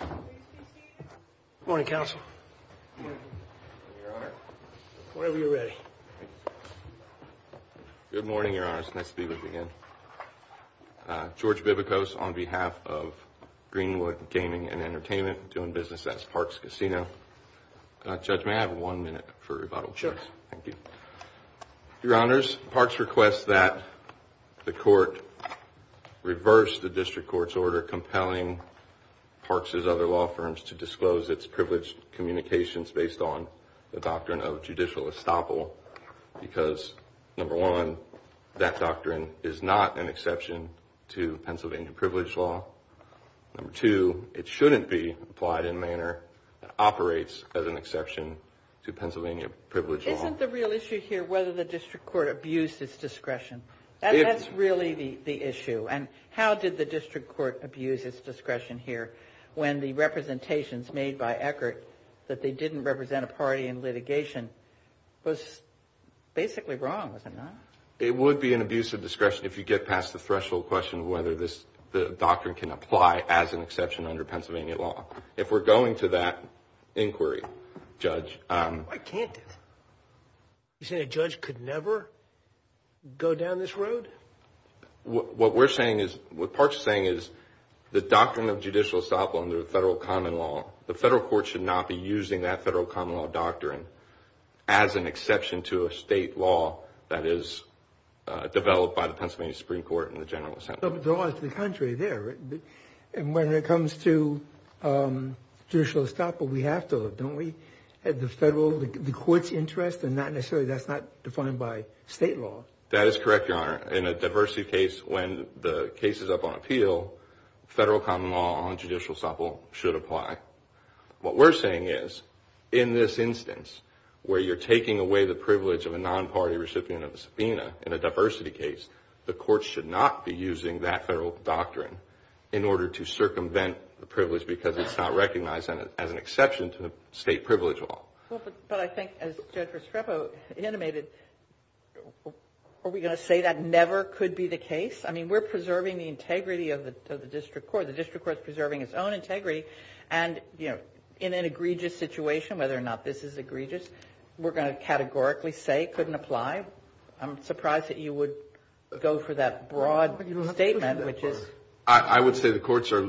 Good morning, your honor. It's nice to be with you again. George Bibikos on behalf of Greenwood Gaming and Entertainment doing business at Parks Casino. Judge, may I have one minute for rebuttal, please? Sure. Thank you. Your honors, Parks requests that the court reverse the district court's order compelling Parks' other law firms to disclose its privileged communications based on the doctrine of judicial estoppel because, number one, that doctrine is not an exception to Pennsylvania privilege law. Number two, it shouldn't be applied in a manner that operates as an exception to Pennsylvania privilege law. Isn't the real issue here whether the district court abused its discretion? That's really the issue. And how did the district court abuse its discretion here when the representations made by Eckert that they didn't represent a party in litigation was basically wrong, was it not? It would be an abuse of discretion if you get past the threshold question whether the doctrine can apply as an exception under Pennsylvania law. If we're going to that inquiry, Judge... Why can't it? You're saying a judge could never go down this road? What we're saying is, what Parks is saying is, the doctrine of judicial estoppel under federal common law, the federal court should not be using that federal common law doctrine as an exception to a state law that is developed by the Pennsylvania Supreme Court and general assembly. But the contrary there. And when it comes to judicial estoppel, we have to, don't we? The federal, the court's interest and not necessarily, that's not defined by state law. That is correct, Your Honor. In a diversity case, when the case is up on appeal, federal common law on judicial estoppel should apply. What we're saying is, in this instance, where you're taking away the privilege of a non-party recipient of the subpoena in a diversity case, the court should not be using that federal doctrine in order to circumvent the privilege because it's not recognized as an exception to the state privilege law. Well, but I think as Judge Restrepo intimated, are we going to say that never could be the case? I mean, we're preserving the integrity of the district court. The district court is preserving its own integrity. And, you know, in an egregious situation, whether or not this is egregious, we're going to categorically say couldn't apply. I'm surprised that you would go for that broad statement, which is. I would say the courts are,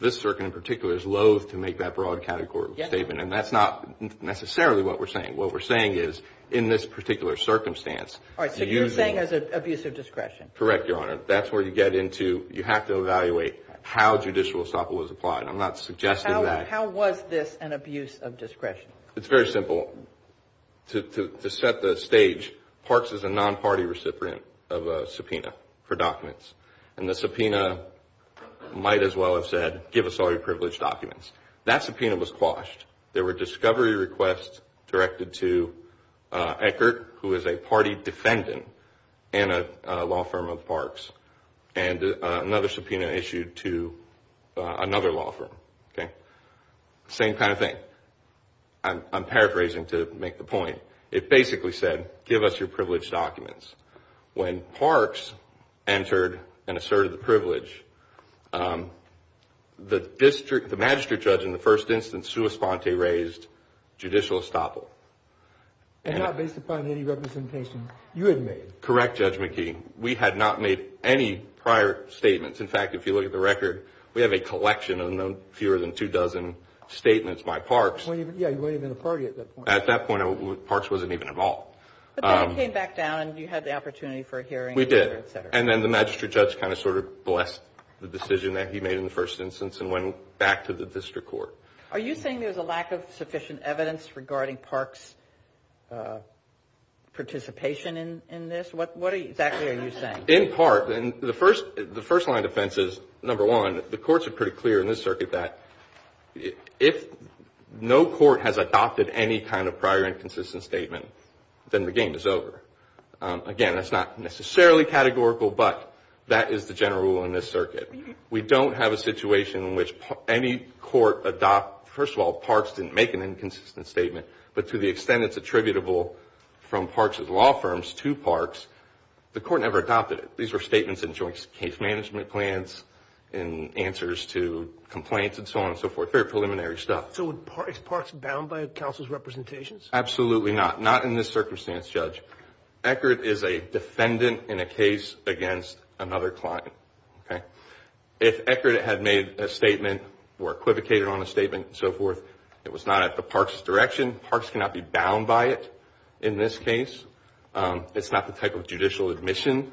this circuit in particular, is loathe to make that broad categorical statement. And that's not necessarily what we're saying. What we're saying is, in this particular circumstance. All right. So you're saying there's an abuse of discretion. Correct, Your Honor. That's where you get into, you have to evaluate how judicial estoppel was applied. I'm not suggesting that. How was this an abuse of discretion? It's very simple. To set the stage, Parks is a non-party recipient of a subpoena for documents. And the subpoena might as well have said, give us all your privileged documents. That subpoena was quashed. There were discovery requests directed to Eckert, who is a party defendant in a law firm of Parks. And another subpoena issued to another law firm. Okay. Same kind of thing. I'm paraphrasing to make the point. It basically said, give us your privileged documents. When Parks entered and asserted the privilege, the magistrate judge in the first instance, Sua Sponte, raised judicial estoppel. And not based upon any representation you had made. Correct, Judge McKee. We had not made any prior statements. In fact, if you look at the record, we have a collection of no fewer than two dozen statements by Parks. Yeah, you weren't even a party at that point. At that point, Parks wasn't even involved. But then it came back down and you had the opportunity for a hearing. We did. And then the magistrate judge kind of sort of blessed the decision that he made in the first instance and went back to the district court. Are you saying there's a lack of sufficient evidence regarding Parks' participation in this? What exactly are you saying? In part. And the first line of defense is, number one, the courts are pretty clear in this circuit that if no court has adopted any kind of prior inconsistent statement, then the game is over. Again, that's not necessarily categorical, but that is the general rule in this circuit. We don't have a situation in which any court adopts, first of all, Parks didn't make an inconsistent statement, but to the extent it's attributable from Parks' law firms to Parks, the court never adopted it. These were statements in joint case management plans and answers to complaints and so on and so forth. Very preliminary stuff. So is Parks bound by counsel's representations? Absolutely not. Not in this circumstance, Judge. Eckerd is a defendant in a case against another client. If Eckerd had made a statement or equivocated on a statement and so forth, it was not at the Parks' direction. Parks cannot be bound by it in this case. It's not the type of judicial admission,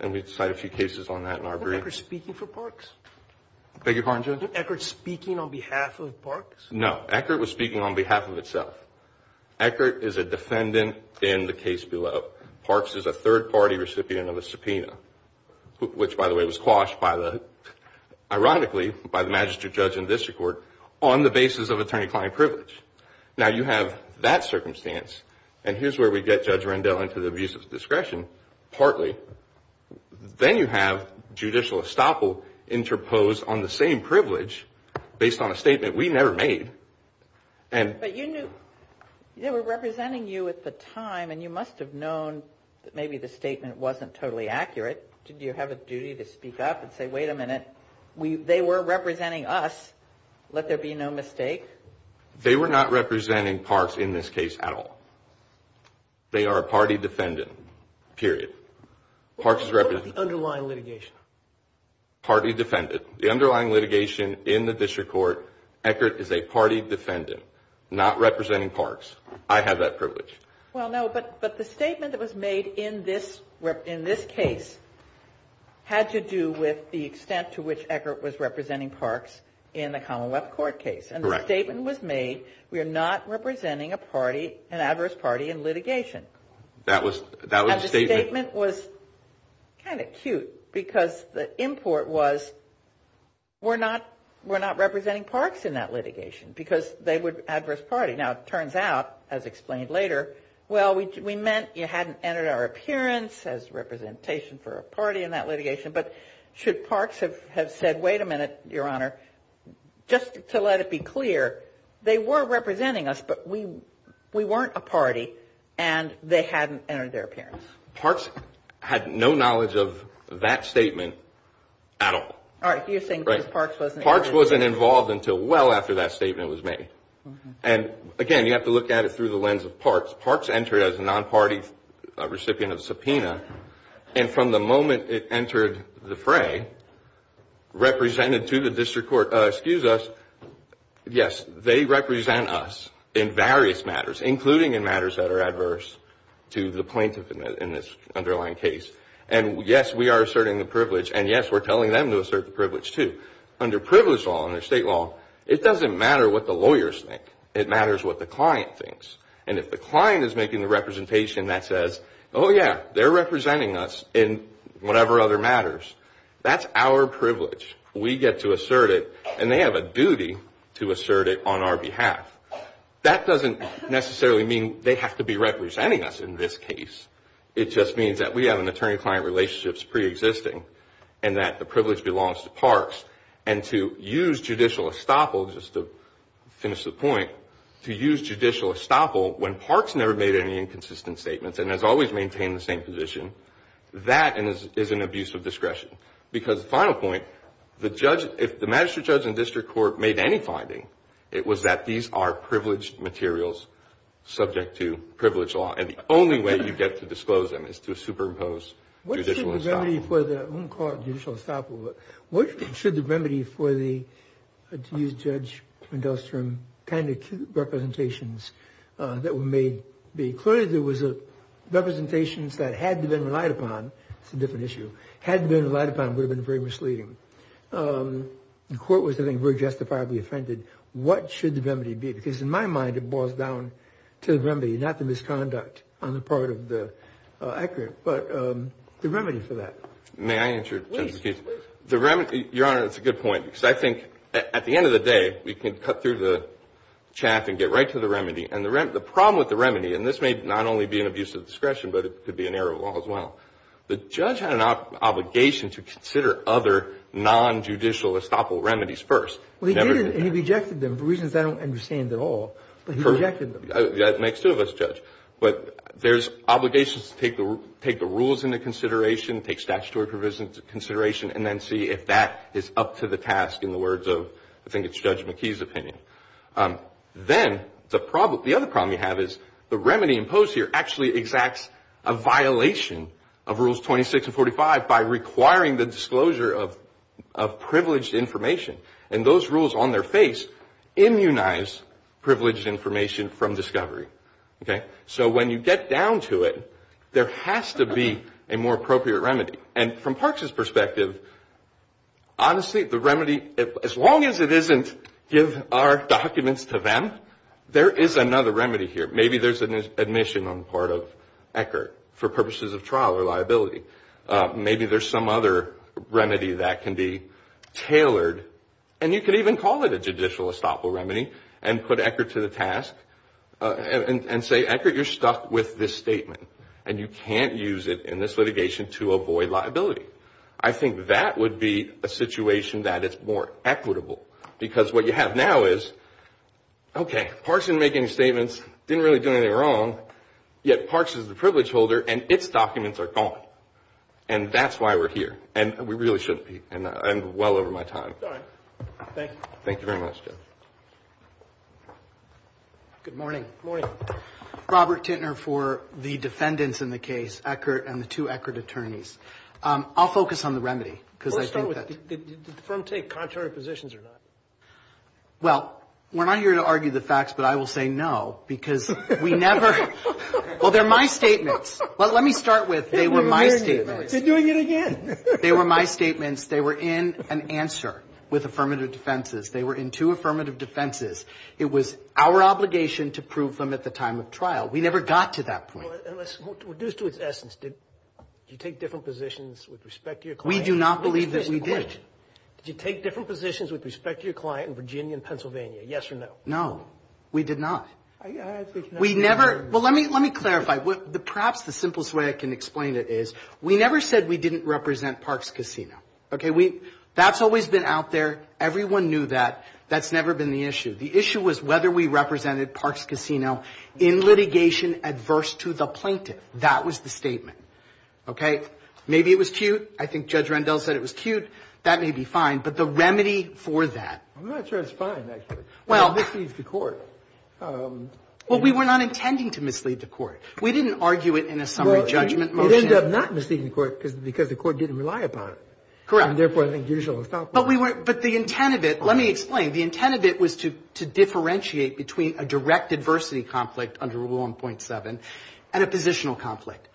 and we cite a few cases on that in our brief. Was Eckerd speaking for Parks? Beg your pardon, Judge? Was Eckerd speaking on behalf of Parks? No. Eckerd was speaking on behalf of itself. Eckerd is a defendant in the case below. Parks is a third-party recipient of a subpoena, which, by the way, was quashed, ironically, by the And here's where we get Judge Rendell into the abuse of discretion, partly. Then you have judicial estoppel interposed on the same privilege based on a statement we never made. But you knew they were representing you at the time, and you must have known that maybe the statement wasn't totally accurate. Did you have a duty to speak up and say, wait a minute, they were representing us, let there be no mistake? They were not representing Parks in this case at all. They are a party defendant, period. What about the underlying litigation? Party defendant. The underlying litigation in the District Court, Eckerd is a party defendant, not representing Parks. I have that privilege. Well, no, but the statement that was made in this case had to do with the extent to which Eckerd was representing Parks in the Commonwealth Court case. And the statement was made, we are not representing a party, an adverse party, in litigation. And the statement was kind of cute, because the import was, we're not representing Parks in that litigation, because they would be an adverse party. Now, it turns out, as explained later, well, we meant you hadn't entered our appearance as representation for a party in that litigation. But should Parks have said, wait a minute, Your Honor, just to let it be clear, they were representing us, but we weren't a party, and they hadn't entered their appearance. Parks had no knowledge of that statement at all. All right, you're saying Parks wasn't- Parks wasn't involved until well after that statement was made. And again, you have to look at it through the lens of Parks. Parks entered as a non-party recipient of subpoena, and from the moment it entered the fray, represented to the district court, excuse us, yes, they represent us in various matters, including in matters that are adverse to the plaintiff in this underlying case. And yes, we are asserting the privilege, and yes, we're telling them to assert the privilege too. Under privileged law, under state law, it doesn't matter what the lawyers think. It matters what the client thinks. And if the client is making the representation that says, oh yeah, they're representing us in whatever other matters, that's our privilege. We get to assert it, and they have a duty to assert it on our behalf. That doesn't necessarily mean they have to be representing us in this case. It just means that we have an attorney-client relationship preexisting, and that the privilege belongs to Parks. And to use judicial estoppel, just to finish the point, to use judicial estoppel when Parks never made any inconsistent statements and has always maintained the same position, that is an abuse of discretion. Because the final point, if the magistrate, judge, and district court made any finding, it was that these are privileged materials subject to privilege law, and the only way you get to disclose them is to superimpose judicial estoppel. What should the remedy for the, I won't call it judicial estoppel, but what should the remedy for the, to use Judge Mendel's term, kind of representations that were made be? Clearly, there was representations that had to have been relied upon. It's a different issue. Had it been relied upon, it would have been very misleading. The court was, I think, very justifiably offended. What should the remedy be? Because in my mind, it boils down to the remedy, not the misconduct on the part of the accurate. But the remedy for that. May I answer, Judge McKee? Please, please. The remedy, Your Honor, it's a good point. Because I think at the end of the day, we can cut through the chaff and get right to the remedy. And the problem with the remedy, and this may not only be an abuse of discretion, but it could be an error of law as well, the judge had an obligation to consider other non-judicial estoppel remedies first. Well, he did, and he rejected them for reasons I don't understand at all. But he rejected them. That makes two of us, Judge. But there's obligations to take the rules into consideration, take statutory provisions into consideration, and then see if that is up to the task in the words of, I think it's Judge McKee's opinion. Then, the other problem you have is the remedy imposed here actually exacts a violation of Rules 26 and 45 by requiring the disclosure of privileged information. And those rules, on their face, immunize privileged information from discovery. So when you get down to it, there has to be a more appropriate remedy. And from Parks' perspective, honestly, the remedy, as long as it isn't give our documents to them, there is another remedy here. Maybe there's an admission on the part of Eckert for purposes of trial or liability. Maybe there's some other remedy that can be tailored. And you could even call it a judicial estoppel remedy and put Eckert to the task and say, Eckert, you're stuck with this statement. And you can't use it in this litigation to avoid liability. I think that would be a situation that is more equitable. Because what you have now is, okay, Parks didn't make any statements, didn't really do anything wrong, yet Parks is the privilege holder and its documents are gone. And that's why we're here. And we really shouldn't be. And I'm well over my time. Thank you. Thank you very much, Judge. Good morning. Good morning. Robert Tintner for the defendants in the case, Eckert and the two Eckert attorneys. I'll focus on the remedy, because I think that the firm take contrary positions or not? Well, we're not here to argue the facts, but I will say no, because we never – well, they're my statements. Well, let me start with they were my statements. They're doing it again. They were my statements. They were in an answer with affirmative defenses. They were in two affirmative defenses. It was our obligation to prove them at the time of trial. We never got to that point. Well, reduced to its essence, did you take different positions with respect to your client? We do not believe that we did. Did you take different positions with respect to your client in Virginia and Pennsylvania, yes or no? No, we did not. We never – well, let me clarify. Perhaps the simplest way I can explain it is we never said we didn't represent Parks Casino, okay? That's always been out there. Everyone knew that. That's never been the issue. The issue was whether we represented Parks Casino in litigation adverse to the plaintiff. That was the statement, okay? Maybe it was cute. I think Judge Rendell said it was cute. That may be fine, but the remedy for that – I'm not sure it's fine, actually. Well – It misleads the court. Well, we were not intending to mislead the court. We didn't argue it in a summary judgment motion. Well, it ended up not misleading the court because the court didn't rely upon it. Correct. And therefore, I think judicial – But we weren't – but the intent of it – let me explain. The intent of it was to differentiate between a direct adversity conflict under Rule 1.7 and a positional conflict.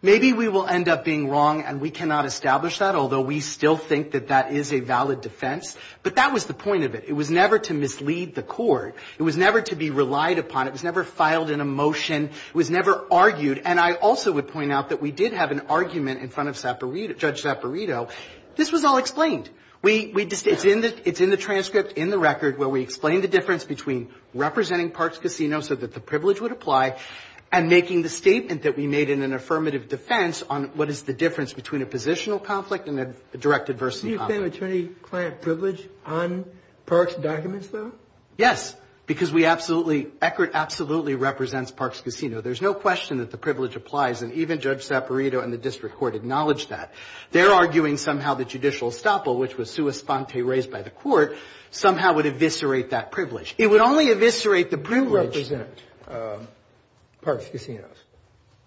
Maybe we will end up being wrong and we cannot establish that, although we still think that that is a valid defense, but that was the point of it. It was never to mislead the court. It was never to be relied upon. It was never filed in a motion. It was never argued. And I also would point out that we did have an argument in front of Judge Zapparito. This was all explained. We – it's in the transcript, in the record, where we explain the difference between representing Parks Casino so that the privilege would apply and making the statement that we made in an affirmative defense on what is the difference between a positional conflict and a direct adversity conflict. Do you claim attorney-client privilege on Parks documents, though? Yes, because we absolutely – Eckert absolutely represents Parks Casino. There's no question that the privilege applies, and even Judge Zapparito and the district court acknowledged that. They're arguing somehow the judicial estoppel, which was sua sponte, raised by the court, somehow would eviscerate that privilege. It would only eviscerate the privilege – You represent Parks Casino.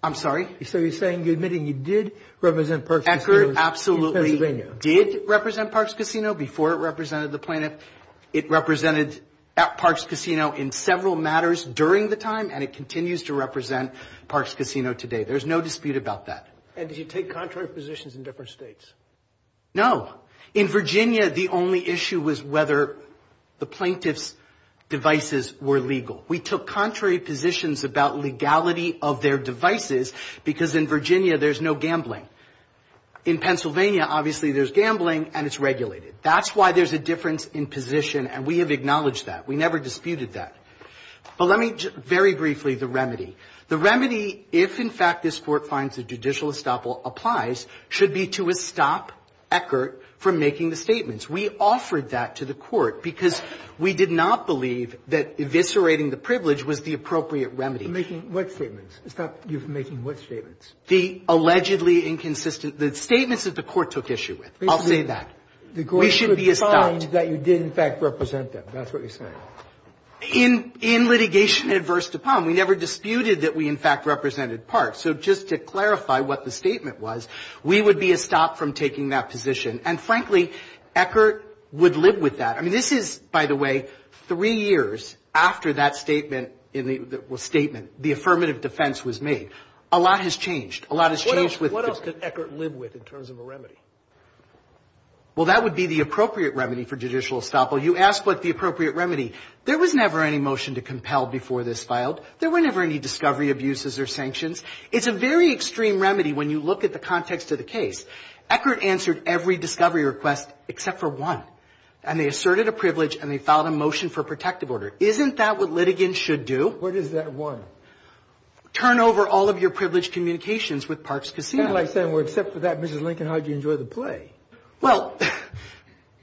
I'm sorry? So you're saying – you're admitting you did represent Parks Casino in Pennsylvania. Eckert absolutely did represent Parks Casino before it represented the plaintiff. It represented Parks Casino in several matters during the time, and it continues to represent Parks Casino today. There's no dispute about that. And did you take contrary positions in different states? No. In Virginia, the only issue was whether the plaintiff's devices were legal. We took contrary positions about legality of their devices because in Virginia there's no gambling. In Pennsylvania, obviously, there's gambling, and it's regulated. That's why there's a difference in position, and we have acknowledged that. We never disputed that. But let me very briefly – the remedy. The remedy, if in fact this Court finds the judicial estoppel applies, should be to stop Eckert from making the statements. We offered that to the Court because we did not believe that eviscerating the privilege was the appropriate remedy. Making what statements? Stop you from making what statements? The allegedly inconsistent – the statements that the Court took issue with. I'll say that. The Court should find that you did, in fact, represent them. That's what you're saying. In litigation adverse to Palm, we never disputed that we, in fact, represented Parks. So just to clarify what the statement was, we would be a stop from taking that position. And frankly, Eckert would live with that. I mean, this is, by the way, three years after that statement, the affirmative defense was made. A lot has changed. A lot has changed with – What else could Eckert live with in terms of a remedy? Well, that would be the appropriate remedy for judicial estoppel. You asked what the appropriate remedy. There was never any motion to compel before this filed. There were never any discovery abuses or sanctions. It's a very extreme remedy when you look at the context of the case. Eckert answered every discovery request except for one. And they asserted a privilege and they filed a motion for protective order. Isn't that what litigants should do? What is that one? Turn over all of your privilege communications with Parks Casino. It's kind of like saying, well, except for that, Mrs. Lincoln, how did you enjoy the play? Well,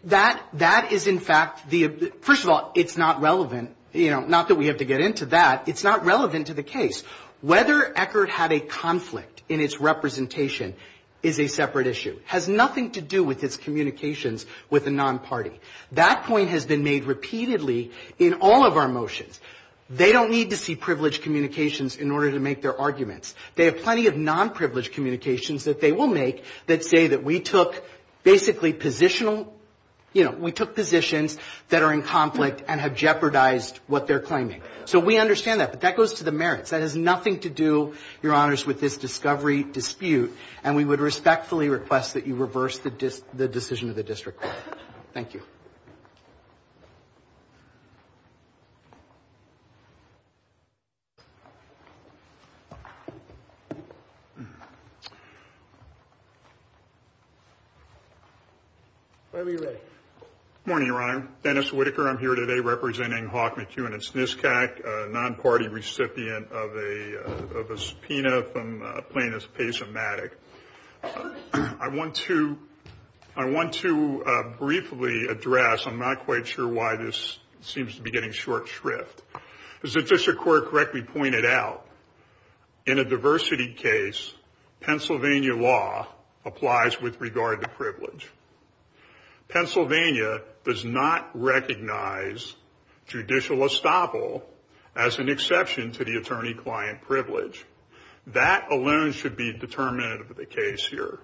that is in fact the – first of all, it's not relevant. You know, not that we have to get into that. It's not relevant to the case. Whether Eckert had a conflict in its representation is a separate issue. It has nothing to do with its communications with a non-party. That point has been made repeatedly in all of our motions. They don't need to see privilege communications in order to make their arguments. They have plenty of non-privilege communications that they will make that say that we took basically positional – you know, we took positions that are in conflict and have jeopardized what they're claiming. So we understand that. But that goes to the merits. That has nothing to do, Your Honors, with this discovery dispute. And we would respectfully request that you reverse the decision of the district court. Thank you. Thank you. Whenever you're ready. Good morning, Your Honor. Dennis Whitaker. I'm here today representing Hawk McEwen at SNSCAC, a non-party recipient of a subpoena from plaintiff's case of Maddock. I want to – I want to briefly address – I'm not quite sure why this seems to be getting short shrift. As the district court correctly pointed out, in a diversity case, Pennsylvania law applies with regard to privilege. Pennsylvania does not recognize judicial estoppel as an exception to the attorney-client privilege. That alone should be determinative of the case here.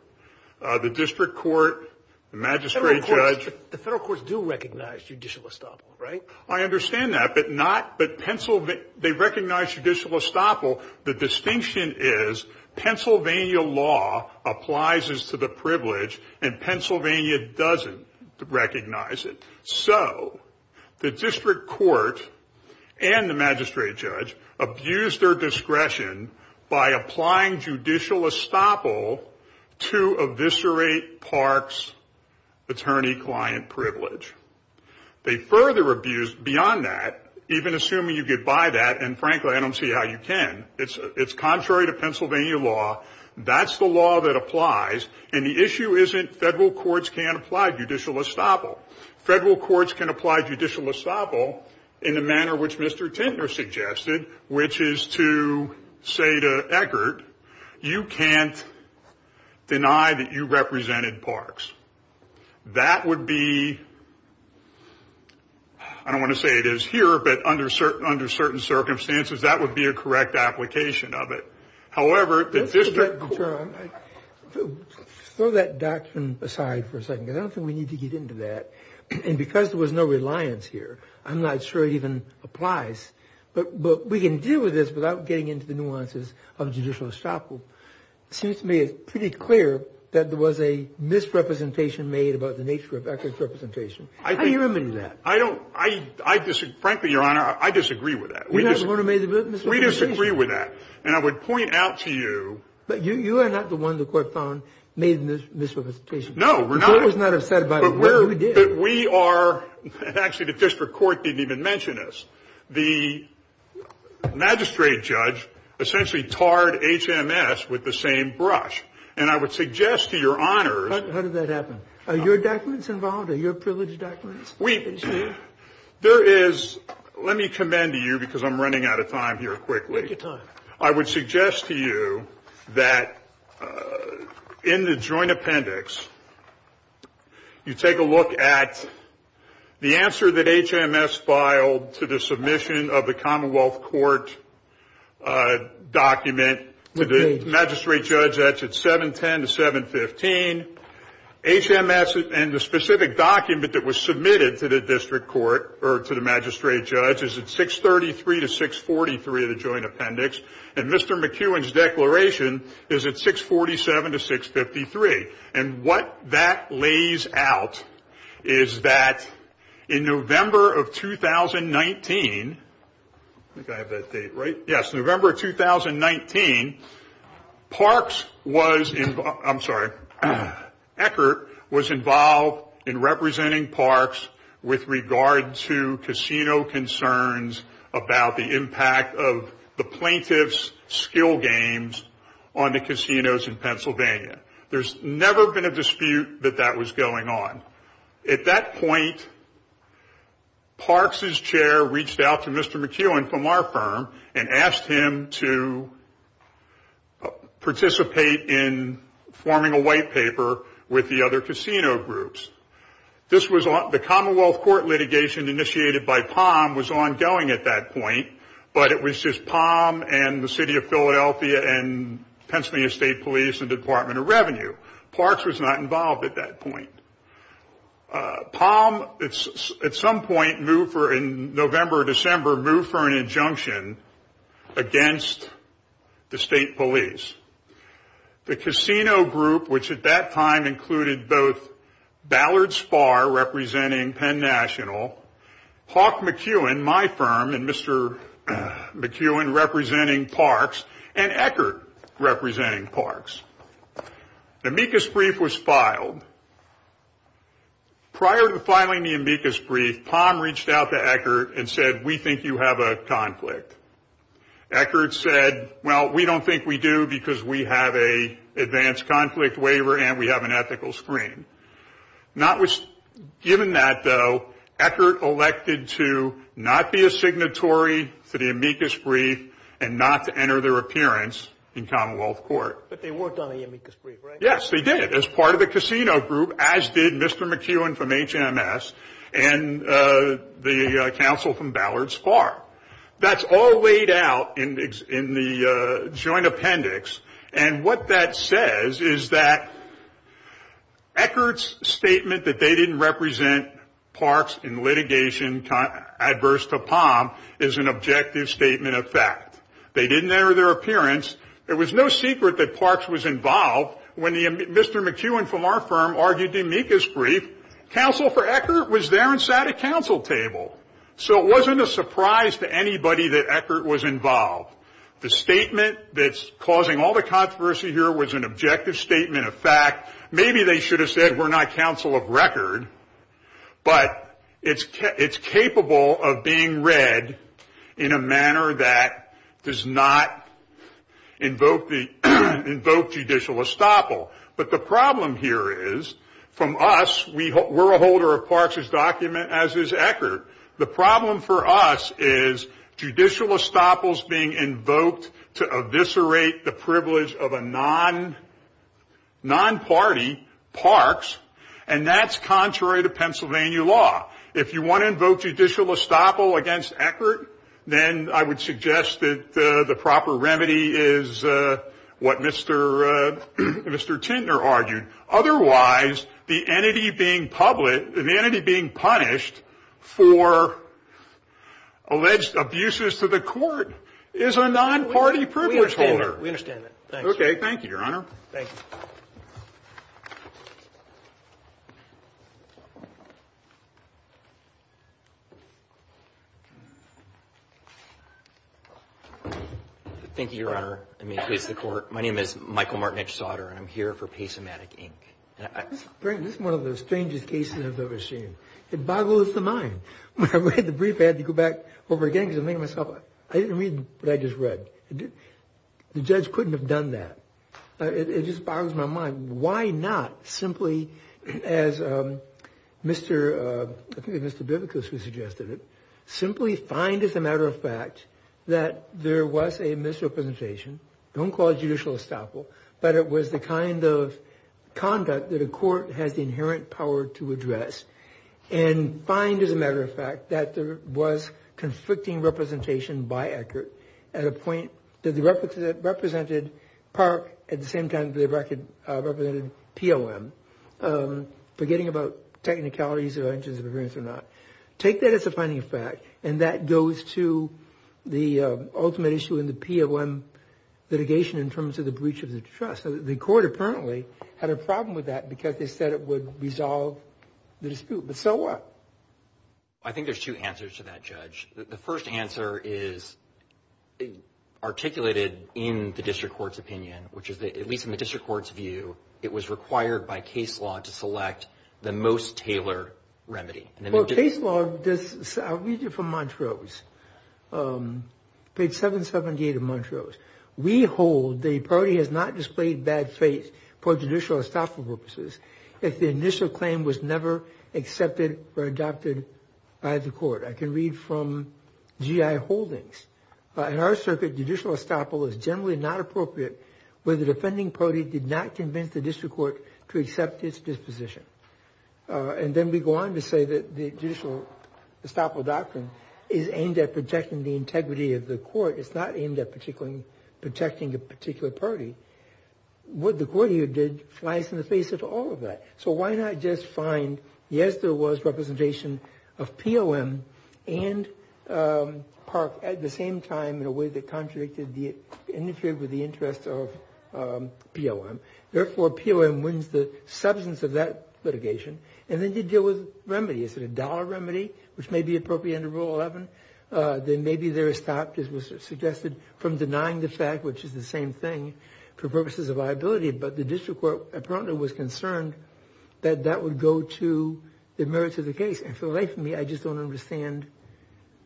The district court, the magistrate judge – The federal courts do recognize judicial estoppel, right? I understand that. But not – But Pennsylvania – They recognize judicial estoppel. The distinction is Pennsylvania law applies as to the privilege and Pennsylvania doesn't recognize it. So the district court and the magistrate judge abuse their discretion by applying judicial estoppel to eviscerate Park's attorney-client privilege. They further abuse – Beyond that, even assuming you get by that – And frankly, I don't see how you can. It's contrary to Pennsylvania law. That's the law that applies. And the issue isn't federal courts can't apply judicial estoppel. Federal courts can apply judicial estoppel in the manner which Mr. Tintner suggested, which is to say to Eckert, you can't deny that you represented Park's. That would be – I don't want to say it is here, but under certain circumstances, that would be a correct application of it. However, the district court – Throw that doctrine aside for a second, because I don't think we need to get into that. And because there was no reliance here, I'm not sure it even applies. But we can deal with this without getting into the nuances of judicial estoppel. It seems to me it's pretty clear that there was a misrepresentation made about the nature of Eckert's representation. How do you remedy that? Frankly, Your Honor, I disagree with that. You're not the one who made the misrepresentation? We disagree with that. And I would point out to you – But you are not the one the court found made the misrepresentation. No, we're not. I was not upset about it, but you did. But we are – Actually, the district court didn't even mention us. The magistrate judge essentially tarred HMS with the same brush. And I would suggest to Your Honors – How did that happen? Are your documents involved? Are your privileged documents? There is – Let me commend to you, because I'm running out of time here quickly. Take your time. I would suggest to you that in the joint appendix, you take a look at the answer that HMS filed to the submission of the Commonwealth Court document to the magistrate judge. That's at 710 to 715. HMS and the specific document that was submitted to the district court or to the magistrate judge is at 633 to 643 of the joint appendix. And Mr. McEwen's declaration is at 647 to 653. And what that lays out is that in November of 2019 – I think I have that date right – Yes, November of 2019, Parks was – I'm sorry. Eckert was involved in representing Parks with regard to casino concerns about the impact of the plaintiff's skill games on the casinos in Pennsylvania. There's never been a dispute that that was going on. At that point, Parks' chair reached out to Mr. McEwen from our firm and asked him to participate in forming a white paper with the other casino groups. This was – the Commonwealth Court litigation initiated by Palm was ongoing at that point, but it was just Palm and the City of Philadelphia and Pennsylvania State Police and Department of Revenue. Parks was not involved at that point. Palm, at some point, moved for – filed an injunction against the State Police. The casino group, which at that time included both Ballard Sparr representing Penn National, Hawk McEwen, my firm, and Mr. McEwen representing Parks, and Eckert representing Parks. The amicus brief was filed. Prior to filing the amicus brief, Palm reached out to Eckert and said, we think you have a conflict. Eckert said, well, we don't think we do because we have an advanced conflict waiver and we have an ethical screen. Not – given that, though, Eckert elected to not be a signatory to the amicus brief and not to enter their appearance in Commonwealth Court. But they worked on the amicus brief, right? Yes, they did. As part of the casino group, as did Mr. McEwen from HMS and the counsel from Ballard Sparr. That's all laid out in the joint appendix. And what that says is that Eckert's statement that they didn't represent Parks in litigation adverse to Palm is an objective statement of fact. They didn't enter their appearance. It was no secret that Parks was involved when Mr. McEwen from our firm argued the amicus brief. Counsel for Eckert was there and sat at counsel table. So it wasn't a surprise to anybody that Eckert was involved. The statement that's causing all the controversy here was an objective statement of fact. Maybe they should have said, we're not counsel of record, but it's capable of being read in a manner that does not invoke judicial estoppel. But the problem here is, from us, we're a holder of Parks' document, as is Eckert. The problem for us is judicial estoppel's being invoked to eviscerate the privilege of a non-party, Parks, and that's contrary to Pennsylvania law. If you want to invoke judicial estoppel against Eckert, then I would suggest that the proper remedy is what Mr. Tintner argued. Otherwise, the entity being punished for alleged abuses to the court is a non-party privilege holder. We understand that. OK, thank you, Your Honor. Thank you. Thank you, Your Honor. Let me introduce the court. My name is Michael Martynich-Sauder, and I'm here for Pace-O-Matic, Inc. This is one of the strangest cases I've ever seen. It boggles the mind. When I read the brief, I had to go back over again, because I'm thinking to myself, I didn't read what I just read. The judge couldn't have done that. It just boggles my mind. Why not simply, as Mr. Bibicus suggested, simply find, as a matter of fact, that there was a misrepresentation, don't call it judicial estoppel, but it was the kind of conduct that a court has the inherent power to address, and find, as a matter of fact, that there was conflicting representation by Eckert at a point that they represented Park at the same time they represented P-O-M, forgetting about technicalities or injuries of appearance or not. Take that as a finding of fact, and that goes to the ultimate issue in the P-O-M litigation in terms of the breach of the trust. The court apparently had a problem with that because they said it would resolve the dispute, but so what? I think there's two answers to that, Judge. The first answer is articulated in the district court's opinion, which is, at least in the district court's view, it was required by case law to select the most tailored remedy. Well, case law does... I'll read you from Montrose. Page 778 of Montrose. We hold the party has not displayed bad faith for judicial estoppel purposes if the initial claim was never accepted or adopted by the court. I can read from G.I. Holdings. In our circuit, judicial estoppel is generally not appropriate where the defending party did not convince the district court to accept its disposition. And then we go on to say that the judicial estoppel doctrine is aimed at protecting the integrity of the court. It's not aimed at protecting a particular party. What the court here did flies in the face of all of that. So why not just find... Yes, there was representation of POM and Park at the same time in a way that contradicted... interfered with the interests of POM. Therefore, POM wins the substance of that litigation. And then you deal with remedy. Is it a dollar remedy, which may be appropriate under Rule 11? Then maybe they're stopped, as was suggested, from denying the fact, which is the same thing, for purposes of liability. But the district court apparently was concerned that that would go to the merits of the case. And for the life of me, I just don't understand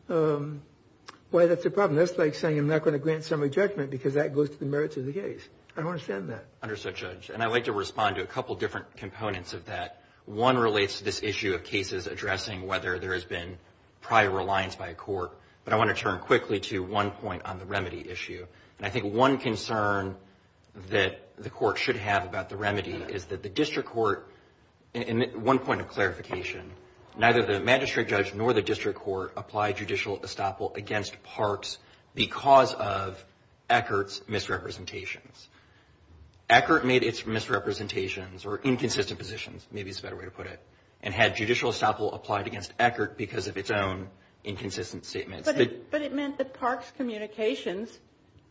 why that's a problem. That's like saying I'm not going to grant summary judgment because that goes to the merits of the case. I don't understand that. Understood, Judge. And I'd like to respond to a couple different components of that. One relates to this issue of cases addressing whether there has been prior reliance by a court. But I want to turn quickly to one point on the remedy issue. And I think one concern that the court should have about the remedy is that the district court... One point of clarification. Neither the magistrate judge nor the district court applied judicial estoppel against Parks because of Eckert's misrepresentations. Eckert made its misrepresentations, or inconsistent positions, maybe is a better way to put it, and had judicial estoppel applied against Eckert because of its own inconsistent statements. But it meant that Parks' communications,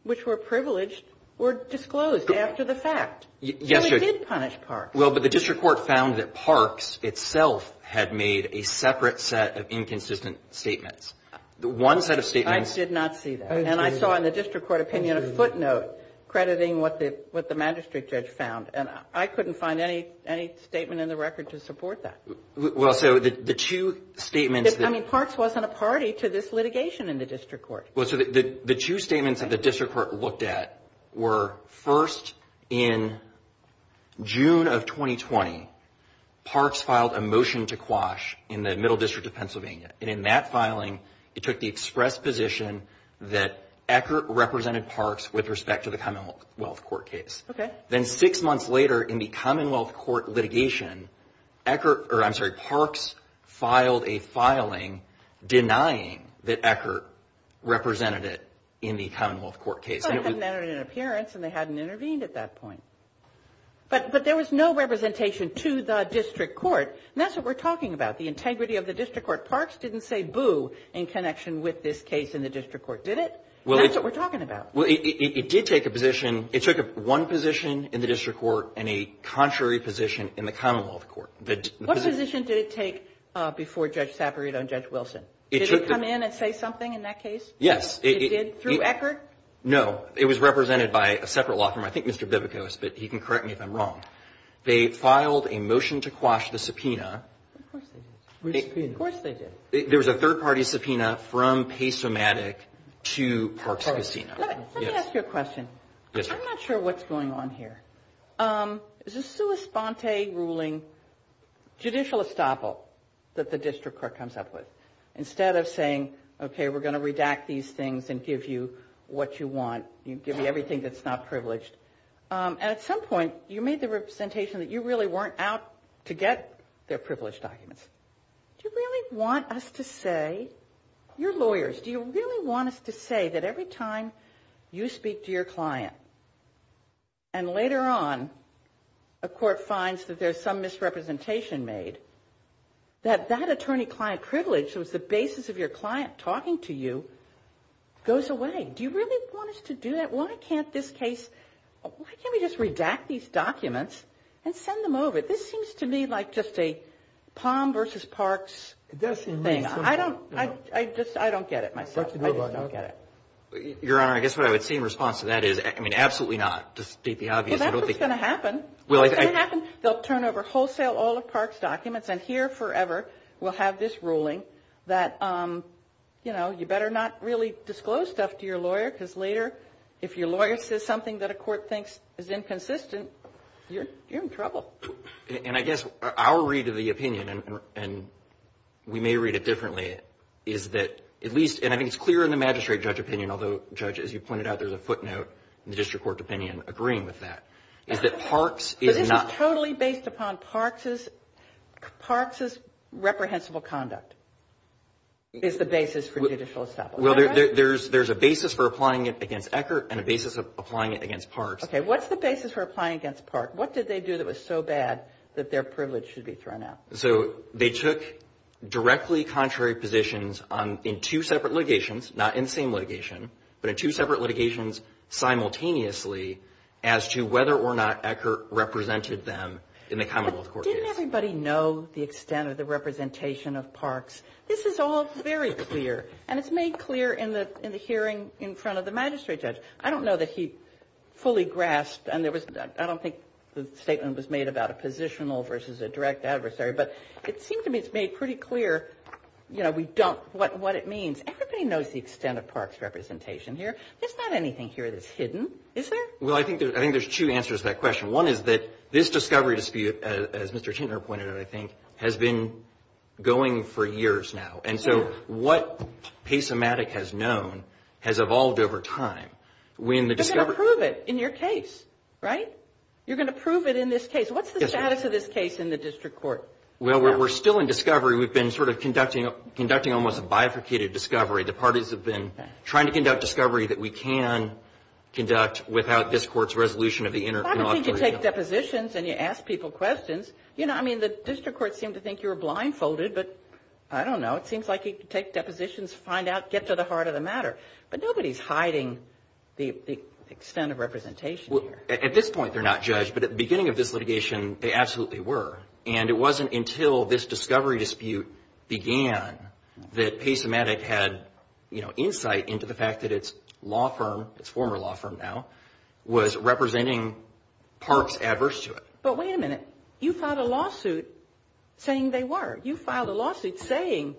which were privileged, were disclosed after the fact. Yes, Judge. So it did punish Parks. Well, but the district court found that Parks itself had made a separate set of inconsistent statements. One set of statements... I did not see that. And I saw in the district court opinion a footnote crediting what the magistrate judge found. And I couldn't find any statement in the record to support that. Well, so the two statements... I mean, Parks wasn't a party to this litigation in the district court. Well, so the two statements that the district court looked at were first in June of 2020, Parks filed a motion to quash in the Middle District of Pennsylvania. And in that filing, it took the express position that Eckert represented Parks with respect to the Commonwealth Court case. Okay. Then six months later, in the Commonwealth Court litigation, Eckert... Or, I'm sorry, Parks filed a filing denying that Eckert represented it in the Commonwealth Court case. Well, they hadn't entered an appearance and they hadn't intervened at that point. But there was no representation to the district court. And that's what we're talking about. The integrity of the district court. Parks didn't say boo in connection with this case in the district court, did it? That's what we're talking about. Well, it did take a position... It took one position in the district court and a contrary position in the Commonwealth Court. What position did it take before Judge Saperito and Judge Wilson? Did it come in and say something in that case? Yes. It did? Through Eckert? No. It was represented by a separate law firm. I think Mr. Bibikos, but he can correct me if I'm wrong. They filed a motion to quash the subpoena. Of course they did. Of course they did. There was a third-party subpoena from Pace-O-Matic to Parks Casino. Let me ask you a question. Yes, ma'am. I'm not sure what's going on here. There's a sua sponte ruling, judicial estoppel, that the district court comes up with. Instead of saying, okay, we're going to redact these things and give you what you want, give you everything that's not privileged. At some point, you made the representation that you really weren't out to get their privileged documents. Do you really want us to say... You're lawyers. Do you really want us to say that every time you speak to your client and later on, a court finds that there's some misrepresentation made, that that attorney-client privilege that was the basis of your client talking to you goes away? Do you really want us to do that? Why can't this case... Why can't we just redact these documents and send them over? This seems to me like just a Palm v. Parks thing. I don't... I just... I don't get it myself. I just don't get it. Your Honor, I guess what I would say in response to that is, I mean, absolutely not, to state the obvious. I don't think... Well, that's what's going to happen. What's going to happen? They'll turn over wholesale all of Parks' documents and here forever, we'll have this ruling that, you know, you better not really disclose stuff to your lawyer because later, if your lawyer says something that a court thinks is inconsistent, you're in trouble. And I guess our read of the opinion and we may read it differently is that at least... And I think it's clear in the magistrate judge opinion, although, Judge, as you pointed out, there's a footnote in the district court opinion agreeing with that, is that Parks is not... But this is totally based upon Parks'... Parks' reprehensible conduct is the basis for judicial estoppel. Well, there's... there's a basis for applying it against Eckert and a basis of applying it against Parks. Okay. What's the basis for applying it against Parks? What did they do that was so bad that their privilege should be thrown out? So they took directly contrary positions on... in two separate litigations, not in the same litigation, but in two separate litigations simultaneously as to whether or not Eckert represented them in the commonwealth court case. But didn't everybody know the extent of the representation of Parks? This is all very clear. And it's made clear in the hearing in front of the magistrate judge. I don't know that he fully grasped... And there was... I don't think the statement was made about a positional versus a direct adversary, but it seems to me it's made pretty clear, you know, we don't... what it means. Everybody knows the extent of Parks' representation here. There's not anything here that's hidden, is there? Well, I think there's... I think there's two answers to that question. One is that this discovery dispute, as Mr. Tintner pointed out, I think, has been going for years now. And so what PASEMATIC has known has evolved over time when the discovery... They're going to prove it in your case, right? You're going to prove it in this case. What's the status of this case in the district court? Well, we're still in discovery. We've been sort of trying to conduct discovery. The parties have been trying to conduct discovery that we can conduct without this court's resolution of the intercollegiate... Well, I don't think you take depositions and you ask people questions. You know, I mean, the district court seemed to think you were blindfolded, but I don't know. It seems like you take depositions, find out, get to the heart of the matter. But nobody's hiding the extent of representation here. Well, at this point they're not judged, but at the beginning of this litigation they absolutely were. And it wasn't until this discovery dispute began that PASEMATIC had, you know, insight into the fact that its law firm, its former law firm now, was representing parks adverse to it. But wait a minute. You filed a lawsuit saying they were. You filed a lawsuit saying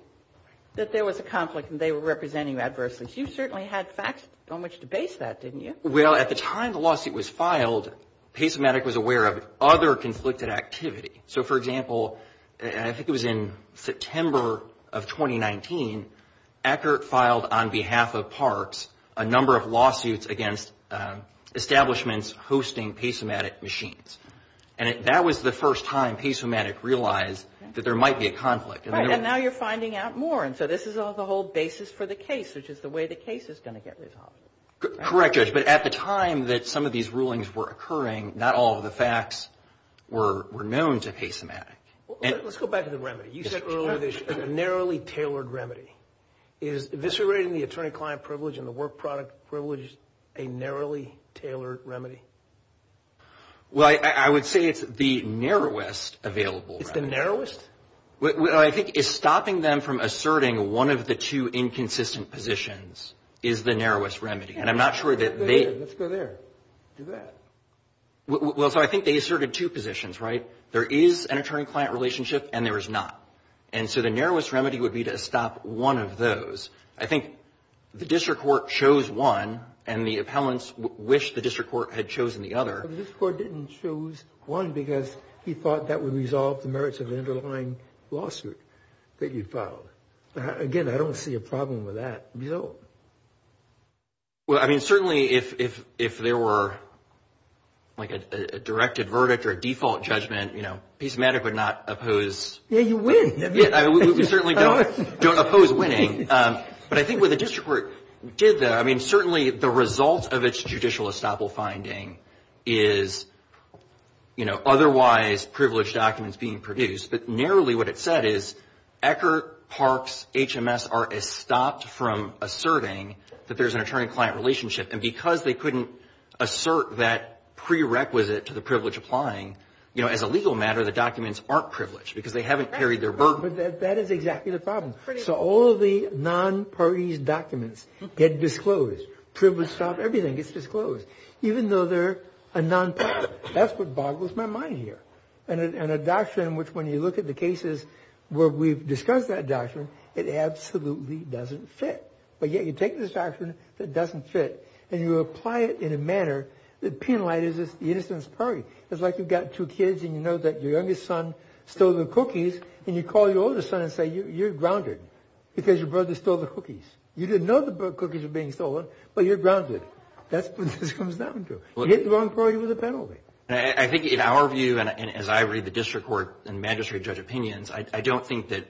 that there was a conflict and they were representing adversely. You certainly had facts on which to base that, didn't you? Well, at the time the lawsuit was filed, PASEMATIC was aware of other conflicted activity. So, for example, I think it was in September of 2019, Eckert filed on behalf of parks a number of lawsuits against establishments PASEMATIC machines. And that was the first time PASEMATIC realized that there might be a conflict. Right. And now you're finding out more. And so this is the whole basis for the case, which is the way the case is going to get resolved. Correct, Judge. But at the time that some of these rulings were occurring, not all of the facts were known to PASEMATIC. Let's go back to the remedy. You said earlier there's a narrowly tailored remedy. Is eviscerating the attorney-client privilege and the work product privilege a narrowly tailored remedy? Well, I would say it's the narrowest available remedy. It's the narrowest? What I think is stopping them from asserting one of the two inconsistent positions is the narrowest remedy. And I'm not sure that they... Let's go there. Do that. Well, so I think they asserted two positions, right? There is an attorney-client relationship and there is not. And so the narrowest remedy would be to stop one of those. I think the district court chose one and the appellants wished the district court had chosen the other. But the district court didn't choose one because he thought that would resolve the merits of the underlying lawsuit that you filed. Again, I don't see a problem with that. We don't. Well, I mean, certainly if there were like a directed verdict or a default judgment, you know, piece of matter would not oppose... Yeah, you win. We certainly don't oppose winning. But I think what the district court did there, I mean, certainly the result of its judicial estoppel finding is, you know, otherwise privileged documents being produced. But narrowly what it said is Ecker, Parks, HMS are estopped from asserting that there's an attorney-client relationship. And because they couldn't assert that prerequisite to the privilege applying, you know, as a legal matter, the documents aren't privileged because they haven't carried their burden. That is exactly the problem. So all the non-parties documents get disclosed. Privilege, everything gets disclosed. Even though they're a non-party. That's what boggles my mind here. And a doctrine which when you look at the cases where we've discussed that doctrine, it absolutely doesn't fit. But yet you take this doctrine that doesn't fit and you apply it in a manner that penalizes the innocent party. It's like you've got two kids and you know that your youngest son stole the cookies and you call your oldest son and say you're grounded because your brother stole the cookies. You didn't know the cookies were being stolen but you're grounded. That's what this comes down to. You hit the wrong party with a penalty. I think in our view and as I read the district court and magistrate judge opinions, I don't think that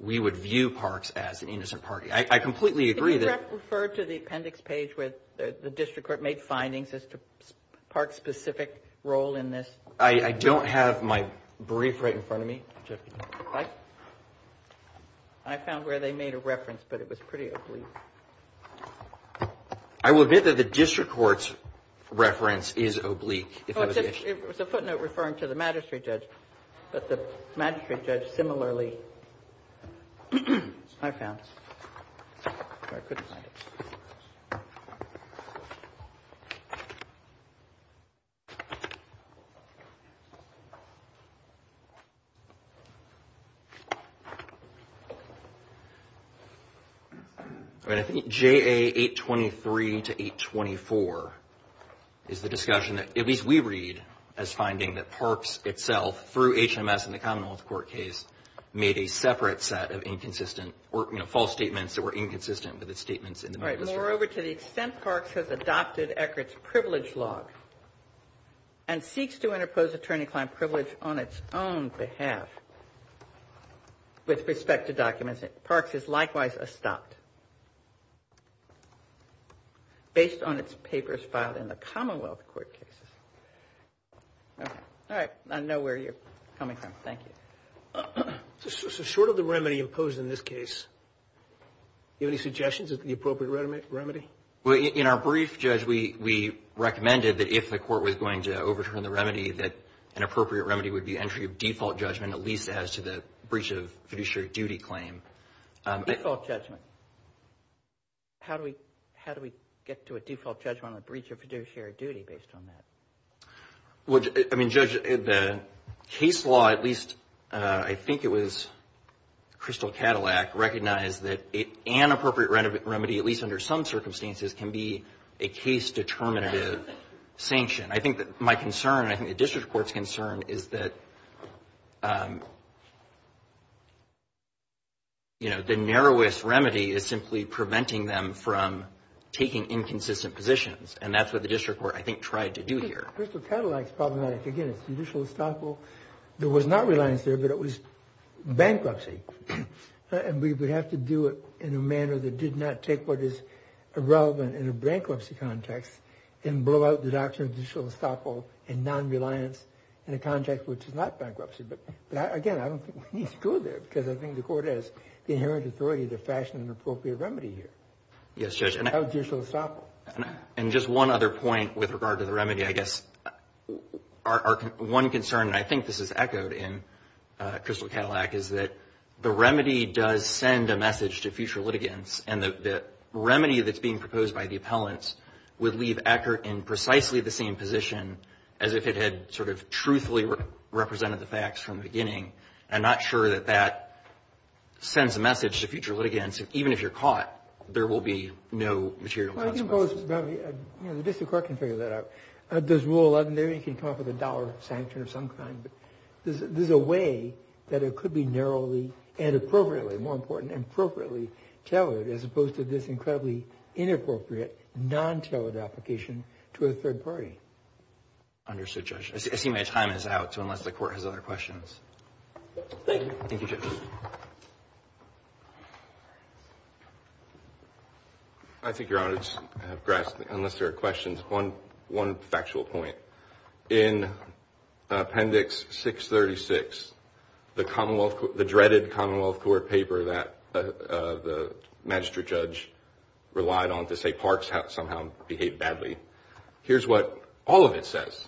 we would view parks as an innocent party. I completely agree that Can you refer to the appendix page where the district court made findings as to parks' specific role in this? I don't have my brief right in front of me. I found where they made a reference but it was pretty oblique. I will admit that the district court's reference is oblique. It was a footnote referring to the magistrate judge. But the magistrate judge similarly I found. I think JA823 to 824 is the discussion that at least we read as finding through HMS in the Commonwealth court case made a separate set of inconsistent or false statements about parks in the Commonwealth court case. I don't know where you're coming from. Thank you. in this case I would like to say that I would like to say that I would like to ask if you have any suggestions of the appropriate remedy? In our brief, Judge, we recommended that if the court was going to overturn the remedy that an appropriate remedy would be entry of default judgment at least as to the breach of fiduciary duty claim. Default judgment? How do we get to a default judgment on the breach of fiduciary duty based on that? Judge, the case law, at least I think it was Crystal Cadillac recognized that an appropriate remedy, at least under some circumstances is the narrowest remedy is simply preventing them from taking inconsistent positions. And that's what the district court I think tried to do here. Crystal Cadillac is problematic. Again, it's judicial estoppel. There was not reliance there, but it was bankruptcy. And we would have to do it in a manner that did not take what is irrelevant in a bankruptcy context and blow out the doctrine of judicial estoppel and non-reliance in a context which is not bankruptcy. But again, I don't think the inherent authority to fashion an appropriate remedy here. And just one other point with regard to the remedy, I guess our one concern and I think this is echoed in Crystal Cadillac is that the remedy does send a message to future litigants and the remedy that's being proposed by the appellants would leave Eckert in precisely the same position as if it had truthfully represented the facts from the perspective So I think the remedy would be appropriately tailored as opposed to this incredibly inappropriate non-tailored application to a third party. I see my time is out unless the court has other questions. Thank you. Thank you Judge. I think your honor unless there are questions one factual point in appendix 636 the dreaded commonwealth court paper that the magistrate judge relied on to say parks somehow behaved badly here's what all of it says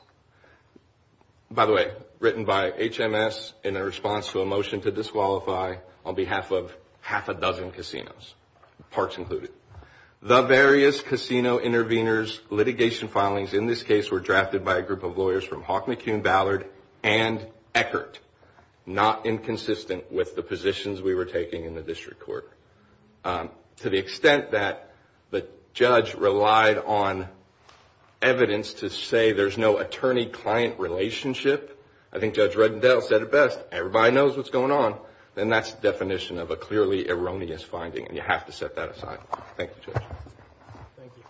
by the way written by HMS in a response to a motion to disqualify on behalf of half a dozen casinos parks included the various casino intervenors litigation filings in this case were drafted by a that the judge relied on evidence to say there's no attorney client relationship I think Judge Reddendale said it best everybody knows what's going on then that's the definition of a clearly erroneous finding you have to set that aside thank you thank you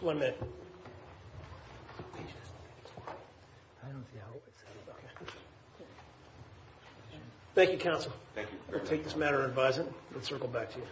one minute thank you counsel thank you I'll take this matter and advise it and circle back to you thank you counsel thank you all thank you all